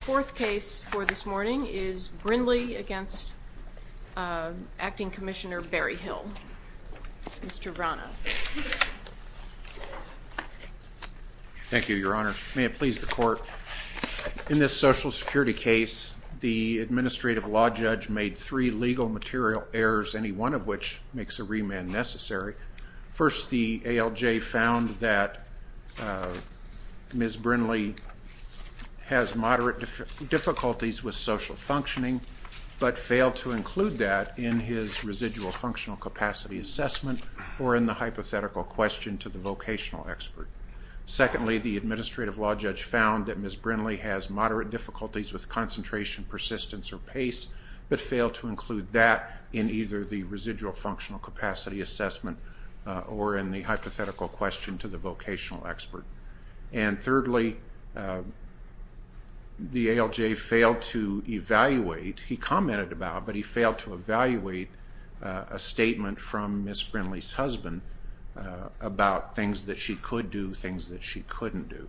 Fourth case for this morning is Brinley v. Acting Commissioner Berryhill. Mr. Vrana. Thank you, Your Honor. May it please the Court. In this Social Security case, the administrative law judge made three legal material errors, any one of which makes a remand necessary. First, the ALJ found that Ms. Brinley has moderate difficulties with social functioning, but failed to include that in his residual functional capacity assessment or in the hypothetical question to the vocational expert. Secondly, the administrative law judge found that Ms. Brinley has moderate difficulties with concentration, persistence, or pace, but failed to include that in either the residual functional capacity assessment or in the hypothetical question to the vocational expert. And thirdly, the ALJ failed to evaluate, he commented about, but he failed to evaluate a statement from Ms. Brinley's husband about things that she could do, things that she couldn't do.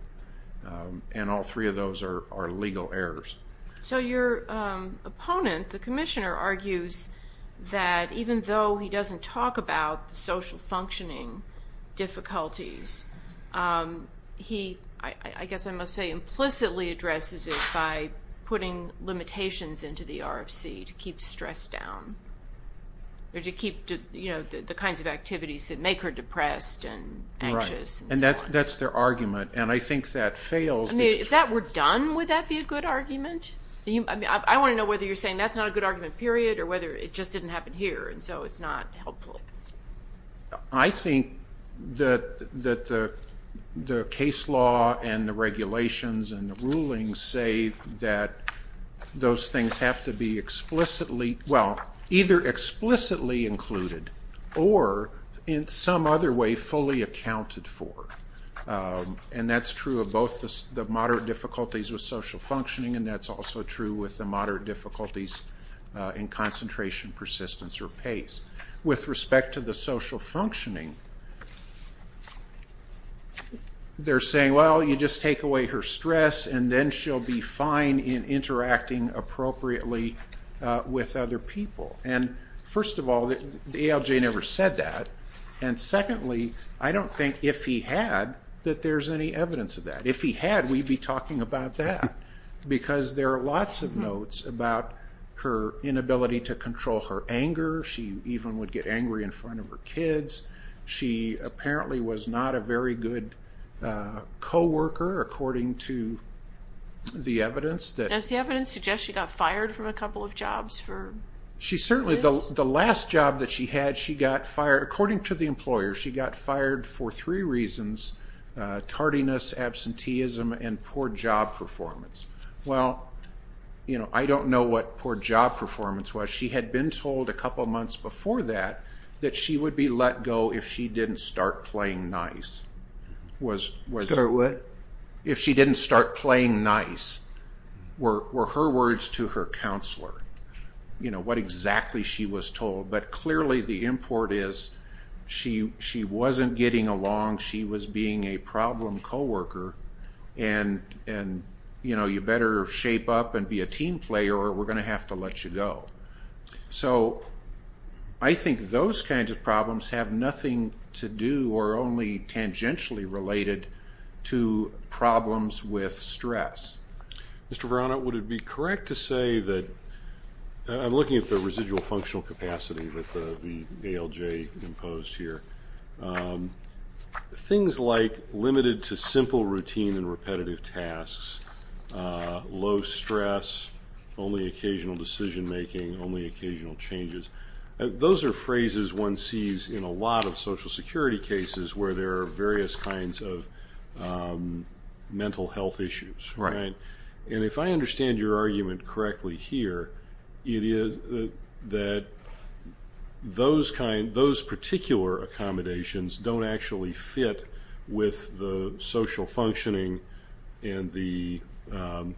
And all three of those are legal errors. So your opponent, the commissioner, argues that even though he doesn't talk about the social functioning difficulties, he, I guess I must say, implicitly addresses it by putting limitations into the RFC to keep stress down. Or to keep, you know, the kinds of activities that make her depressed and anxious and so on. Right. And that's their argument. And I think that fails to be true. If that were done, would that be a good argument? I want to know whether you're saying that's not a good argument, period, or whether it just didn't happen here and so it's not helpful. I think that the case law and the regulations and the rulings say that those things have to be explicitly, well, either explicitly included or in some other way fully accounted for. And that's true of both the moderate difficulties with social functioning and that's also true with the moderate difficulties in concentration, persistence, or pace. With respect to the social functioning, they're saying, well, you just take away her stress and then she'll be fine in interacting appropriately with other people. And first of all, the ALJ never said that. And secondly, I don't think if he had that there's any evidence of that. If he had, we'd be talking about that. Because there are lots of notes about her inability to control her anger. She even would get angry in front of her kids. She apparently was not a very good co-worker, according to the evidence. Does the evidence suggest she got fired from a couple of jobs for this? Well, you know, I don't know what poor job performance was. She had been told a couple months before that that she would be let go if she didn't start playing nice. Start what? If she didn't start playing nice were her words to her counselor, you know, what exactly she was told. But clearly the import is she wasn't getting along. She was being a problem co-worker. And, you know, you better shape up and be a team player or we're going to have to let you go. So I think those kinds of problems have nothing to do or only tangentially related to problems with stress. Mr. Verano, would it be correct to say that I'm looking at the residual functional capacity that the ALJ imposed here. Things like limited to simple routine and repetitive tasks, low stress, only occasional decision making, only occasional changes. Those are phrases one sees in a lot of social security cases where there are various kinds of mental health issues. And if I understand your argument correctly here, it is that those particular accommodations don't actually fit with the social functioning and the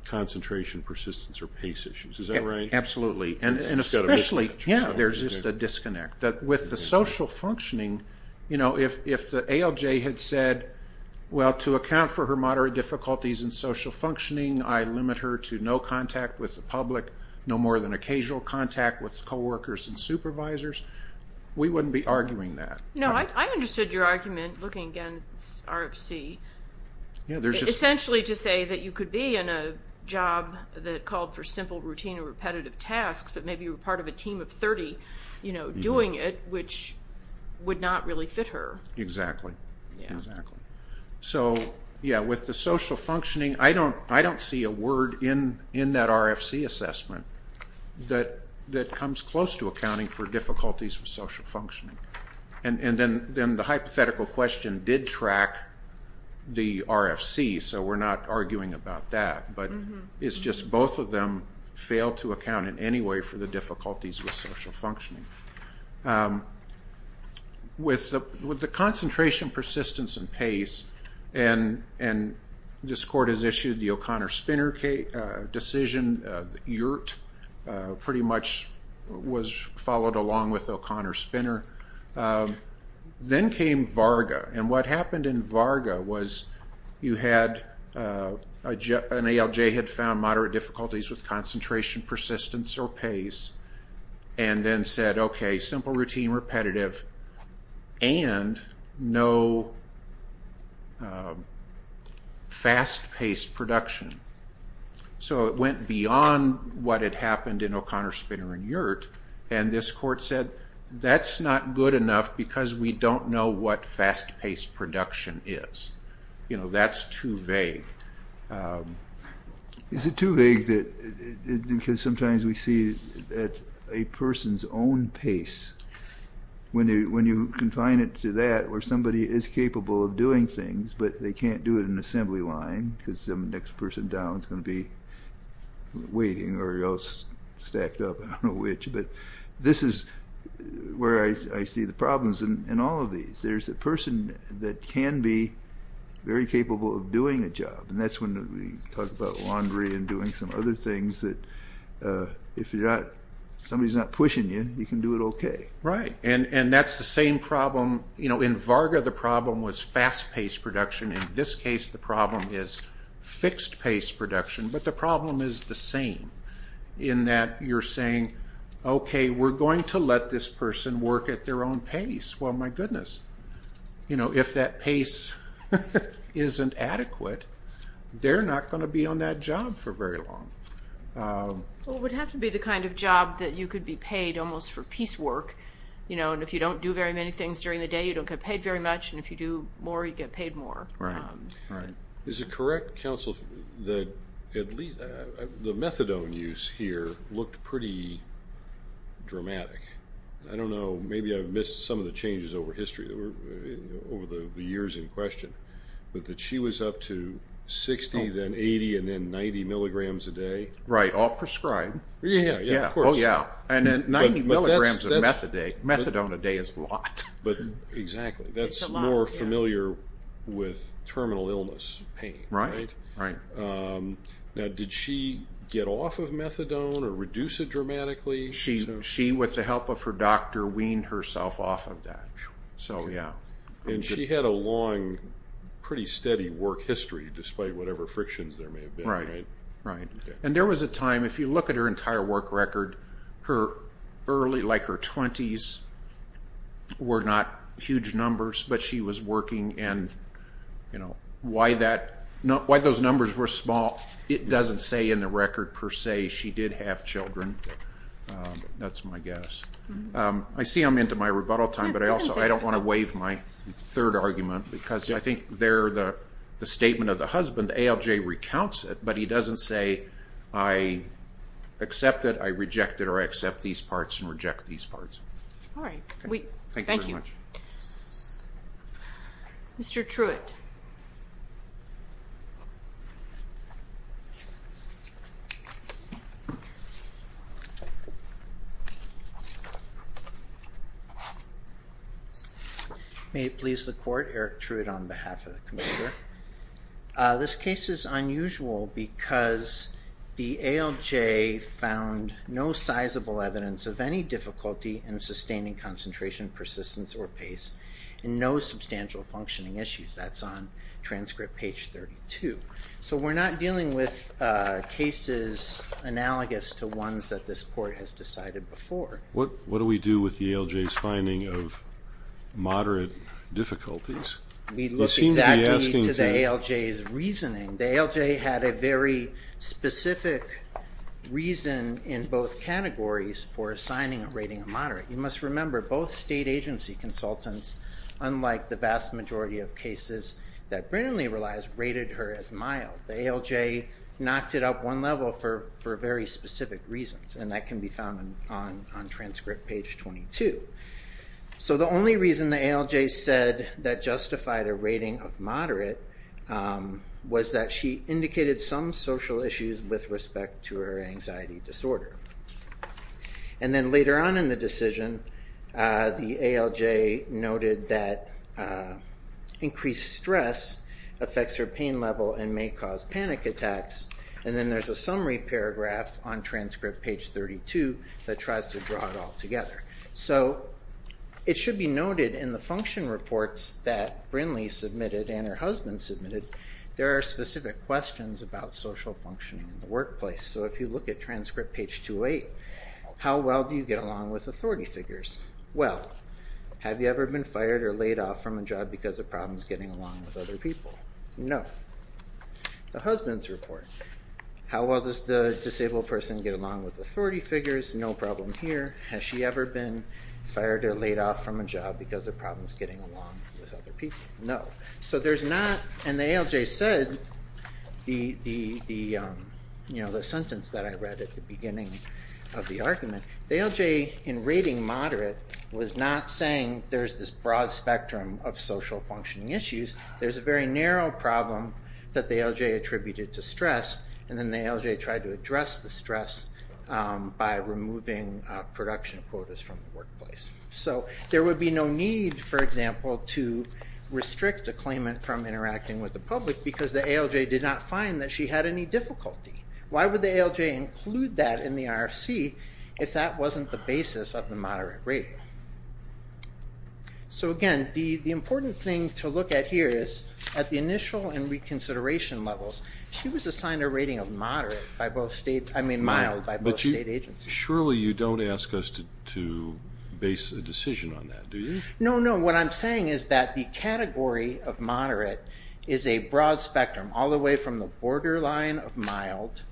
concentration, persistence, or pace issues. Is that right? Absolutely. And especially, yeah, there's just a disconnect. With the social functioning, you know, if the ALJ had said, well, to account for her moderate difficulties in social functioning, I limit her to no contact with the public, no more than occasional contact with co-workers and supervisors, we wouldn't be arguing that. No, I understood your argument looking against RFC, essentially to say that you could be in a job that called for simple routine and repetitive tasks, but maybe you were part of a team of 30 doing it, which would not really fit her. Exactly. So, yeah, with the social functioning, I don't see a word in that RFC assessment that comes close to accounting for difficulties with social functioning. And then the hypothetical question did track the RFC, so we're not arguing about that, but it's just both of them fail to account in any way for the difficulties with social functioning. With the concentration, persistence, and pace, and this court has issued the O'Connor-Spinner decision, yurt pretty much was followed along with O'Connor-Spinner. Then came Varga, and what happened in Varga was you had, an ALJ had found moderate difficulties with concentration, persistence, or pace, and then said, okay, simple routine, repetitive, and no fast-paced production. So it went beyond what had happened in O'Connor-Spinner and yurt, and this court said, that's not good enough because we don't know what fast-paced production is. You know, that's too vague. It's too vague because sometimes we see that a person's own pace, when you confine it to that, where somebody is capable of doing things, but they can't do it in an assembly line because the next person down is going to be waiting or else stacked up, I don't know which. But this is where I see the problems in all of these. There's a person that can be very capable of doing a job, and that's when we talk about laundry and doing some other things that if you're not, somebody's not pushing you, you can do it okay. Right, and that's the same problem, you know, in Varga the problem was fast-paced production. In this case, the problem is fixed-paced production, but the problem is the same in that you're saying, okay, we're going to let this person work at their own pace. Well, my goodness, you know, if that pace isn't adequate, they're not going to be on that job for very long. Well, it would have to be the kind of job that you could be paid almost for piecework, you know, and if you don't do very many things during the day, you don't get paid very much, and if you do more, you get paid more. Right, right. Is it correct, counsel, that the methadone use here looked pretty dramatic? I don't know, maybe I've missed some of the changes over history, over the years in question, but that she was up to 60, then 80, and then 90 milligrams a day? Right, all prescribed. Yeah, yeah, of course. Oh, yeah, and then 90 milligrams of methadone a day is a lot. But, exactly, that's more familiar with terminal illness pain, right? Right, right. Now, did she get off of methadone or reduce it dramatically? She, with the help of her doctor, weaned herself off of that, so, yeah. And she had a long, pretty steady work history, despite whatever frictions there may have been, right? Right, right. And there was a time, if you look at her entire work record, her early, like her 20s, were not huge numbers, but she was working, and, you know, why those numbers were small, it doesn't say in the record, per se, she did have children. That's my guess. I see I'm into my rebuttal time, but I also, I don't want to waive my third argument, because I think there, the statement of the husband, ALJ recounts it, but he doesn't say, I accept it, I reject it, or I accept these parts and reject these parts. All right. Thank you very much. Mr. Truitt. May it please the court, Eric Truitt on behalf of the committee here. This case is unusual because the ALJ found no sizable evidence of any difficulty in sustaining concentration, persistence, or pace, and no substantial functioning issues. That's on transcript page 32. So we're not dealing with cases analogous to ones that this court has decided before. What do we do with the ALJ's finding of moderate difficulties? We look exactly to the ALJ's reasoning. The ALJ had a very specific reason in both categories for assigning a rating of moderate. You must remember, both state agency consultants, unlike the vast majority of cases that Brennan Lee relies, rated her as mild. The ALJ knocked it up one level for very specific reasons, and that can be found on transcript page 22. So the only reason the ALJ said that justified a rating of moderate was that she indicated some social issues with respect to her anxiety disorder. And then later on in the decision, the ALJ noted that increased stress affects her pain level and may cause panic attacks. And then there's a summary paragraph on transcript page 32 that tries to draw it all together. So it should be noted in the function reports that Brennan Lee submitted and her husband submitted, there are specific questions about social functioning in the workplace. So if you look at transcript page 28, how well do you get along with authority figures? Well, have you ever been fired or laid off from a job because of problems getting along with other people? No. The husband's report, how well does the disabled person get along with authority figures? No problem here. Has she ever been fired or laid off from a job because of problems getting along with other people? No. So there's not, and the ALJ said, the sentence that I read at the beginning of the argument, the ALJ in rating moderate was not saying there's this broad spectrum of social functioning issues. There's a very narrow problem that the ALJ attributed to stress, and then the ALJ tried to address the stress by removing production quotas from the workplace. So there would be no need, for example, to restrict a claimant from interacting with the public because the ALJ did not find that she had any difficulty. Why would the ALJ include that in the RFC if that wasn't the basis of the moderate rating? So again, the important thing to look at here is at the initial and reconsideration levels, she was assigned a rating of moderate by both states, I mean mild by both state agencies. Surely you don't ask us to base a decision on that, do you? No, no. What I'm saying is that the category of moderate is a broad spectrum, all the way from the borderline of mild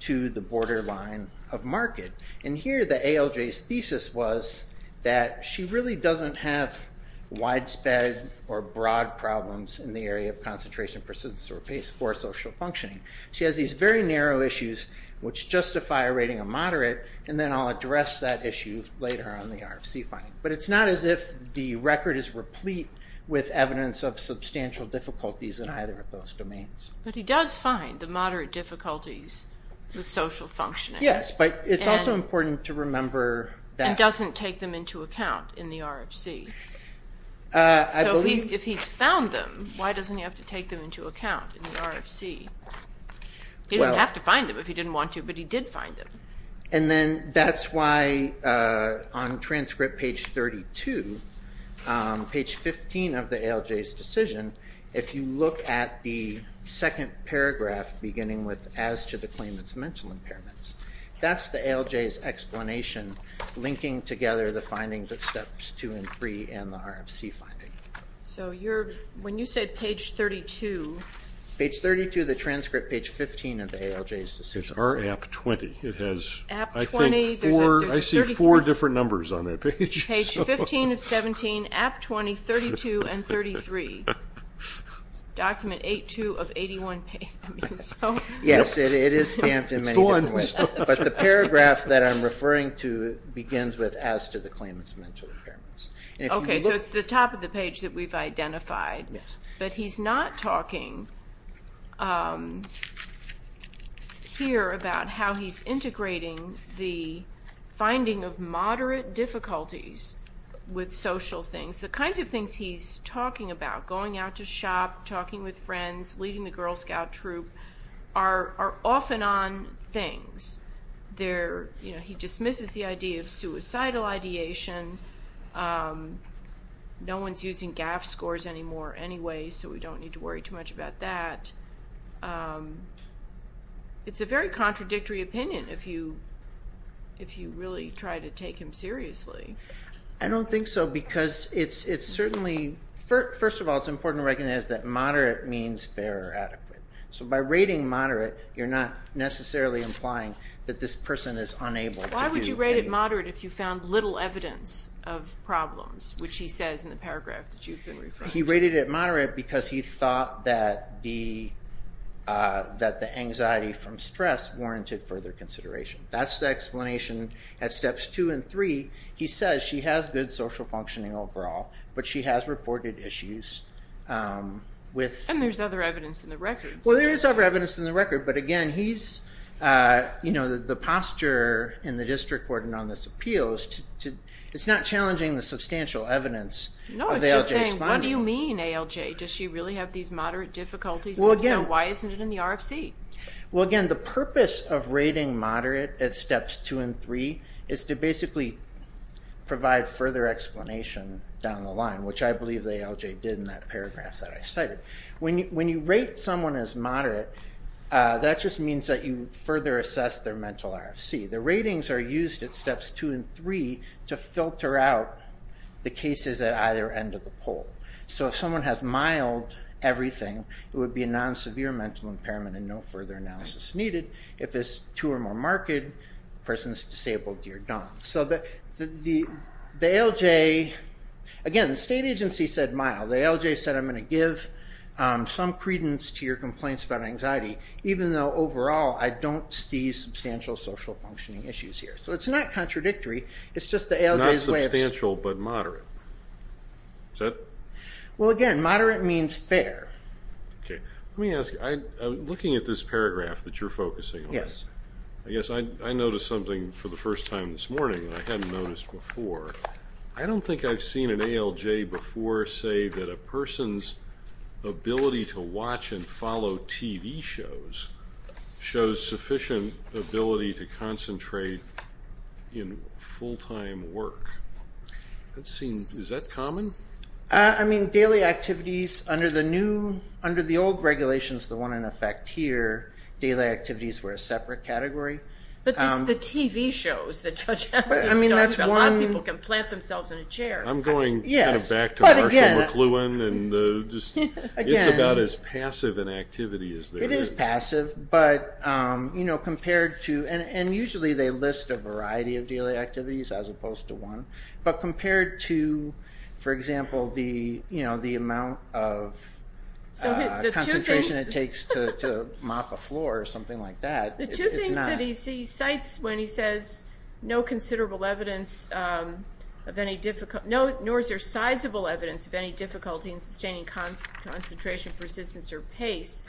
to the borderline of market. And here the ALJ's thesis was that she really doesn't have widespread or broad problems in the area of concentration, persistence, or social functioning. She has these very narrow issues which justify a rating of moderate, and then I'll address that issue later on the RFC finding. But it's not as if the record is replete with evidence of substantial difficulties in either of those domains. But he does find the moderate difficulties with social functioning. Yes, but it's also important to remember that. And doesn't take them into account in the RFC. So if he's found them, why doesn't he have to take them into account in the RFC? He didn't have to find them if he didn't want to, but he did find them. And then that's why on transcript page 32, page 15 of the ALJ's decision, if you look at the second paragraph beginning with, as to the claimant's mental impairments. That's the ALJ's explanation linking together the findings at steps two and three in the RFC finding. So when you said page 32... Page 32 of the transcript, page 15 of the ALJ's decision. It's AP 20. It has, I think, four different numbers on that page. Page 15 of 17, AP 20, 32, and 33. Document 8-2 of 81. Yes, it is stamped in many different ways. But the paragraph that I'm referring to begins with, as to the claimant's mental impairments. Okay, so it's the top of the page that we've identified. But he's not talking here about how he's integrating the finding of moderate difficulties with social things. The kinds of things he's talking about, going out to shop, talking with friends, leading the Girl Scout Troop, are off and on things. He dismisses the idea of suicidal ideation. No one's using GAF scores anymore anyway, so we don't need to worry too much about that. It's a very contradictory opinion if you really try to take him seriously. I don't think so, because it's certainly, first of all, it's important to recognize that moderate means fair or adequate. So by rating moderate, you're not necessarily implying that this person is unable to do anything. Why would you rate it moderate if you found little evidence of problems, which he says in the paragraph that you've been referring to? He rated it moderate because he thought that the anxiety from stress warranted further consideration. That's the explanation at steps 2 and 3. He says she has good social functioning overall, but she has reported issues. And there's other evidence in the record. Well, there is other evidence in the record, but again, he's, you know, the posture in the district court and on this appeal, it's not challenging the substantial evidence of ALJ's finding. No, it's just saying, what do you mean, ALJ? Does she really have these moderate difficulties? And if so, why isn't it in the RFC? Well, again, the purpose of rating moderate at steps 2 and 3 is to basically provide further explanation down the line, which I believe the ALJ did in that paragraph that I cited. When you rate someone as moderate, that just means that you further assess their mental RFC. The ratings are used at steps 2 and 3 to filter out the cases at either end of the poll. So if someone has mild everything, it would be a non-severe mental impairment and no further analysis needed. If it's too or more marked, the person is disabled, you're done. So the ALJ, again, the state agency said mild. The ALJ said, I'm going to give some credence to your complaints about anxiety, even though overall I don't see substantial social functioning issues here. So it's not contradictory, it's just the ALJ's way of... Well, again, moderate means fair. Let me ask you, looking at this paragraph that you're focusing on, I guess I noticed something for the first time this morning that I hadn't noticed before. I don't think I've seen an ALJ before say that a person's ability to watch and follow TV shows shows sufficient ability to concentrate in full-time work. Is that common? I mean, daily activities, under the old regulations, the one in effect here, daily activities were a separate category. But it's the TV shows that Judge Hamilton talks about. A lot of people can plant themselves in a chair. I'm going back to Marshall McLuhan, and it's about as passive an activity as there is. It is passive, but compared to... And usually they list a variety of daily activities as opposed to one. But compared to, for example, the amount of concentration it takes to mop a floor or something like that, it's not. The two things that he cites when he says, nor is there sizable evidence of any difficulty in sustaining concentration, persistence, or pace,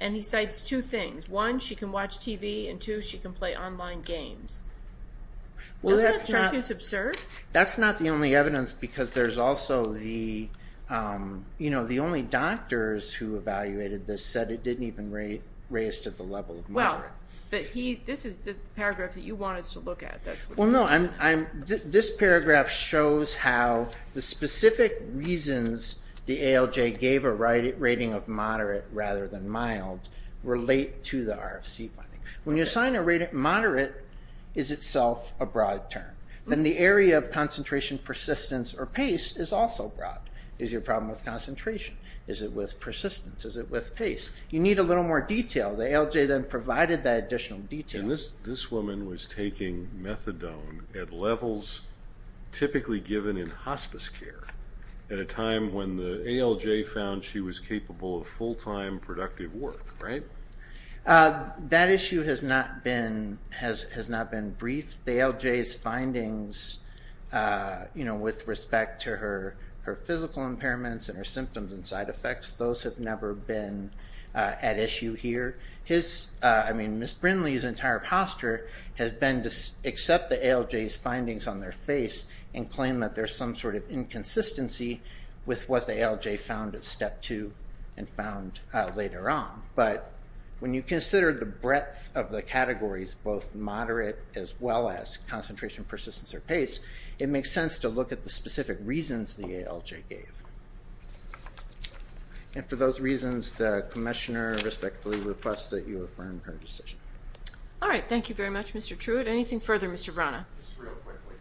and he cites two things. One, she can watch TV, and two, she can play online games. Doesn't that strike you as absurd? That's not the only evidence because there's also the only doctors who evaluated this said it didn't even raise to the level of moderate. Well, but this is the paragraph that you wanted us to look at. Well, no, this paragraph shows how the specific reasons the ALJ gave a rating of moderate rather than mild relate to the RFC funding. When you assign a rating, moderate is itself a broad term. Then the area of concentration, persistence, or pace is also broad. Is your problem with concentration? Is it with persistence? Is it with pace? You need a little more detail. The ALJ then provided that additional detail. And this woman was taking methadone at levels typically given in hospice care at a time when the ALJ found she was capable of full-time productive work, right? That issue has not been briefed. The ALJ's findings with respect to her physical impairments and her symptoms and side effects, those have never been at issue here. Ms. Brindley's entire posture has been to accept the ALJ's findings on their face and claim that there's some sort of inconsistency with what the ALJ found at Step 2 and found later on. But when you consider the breadth of the categories, both moderate as well as concentration, persistence, or pace, it makes sense to look at the specific reasons the ALJ gave. And for those reasons, the Commissioner respectfully requests that you affirm her decision. All right. Thank you very much, Mr. Truitt. Anything further, Mr. Vrana? Just real quickly.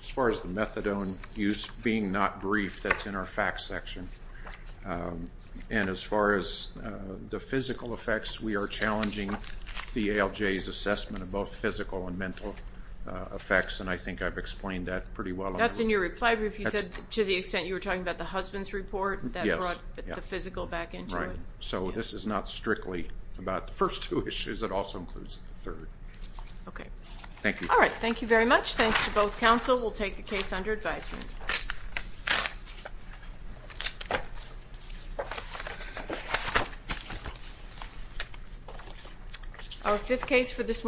As far as the methadone use being not briefed, that's in our facts section. And as far as the physical effects, we are challenging the ALJ's assessment of both physical and mental effects, and I think I've explained that pretty well. That's in your reply brief. You said to the extent you were talking about the husband's report, that brought the physical back into it. Right. So this is not strictly about the first two issues. It also includes the third. Okay. Thank you. All right. Thank you very much. Thanks to both counsel. We'll take the case under advisement.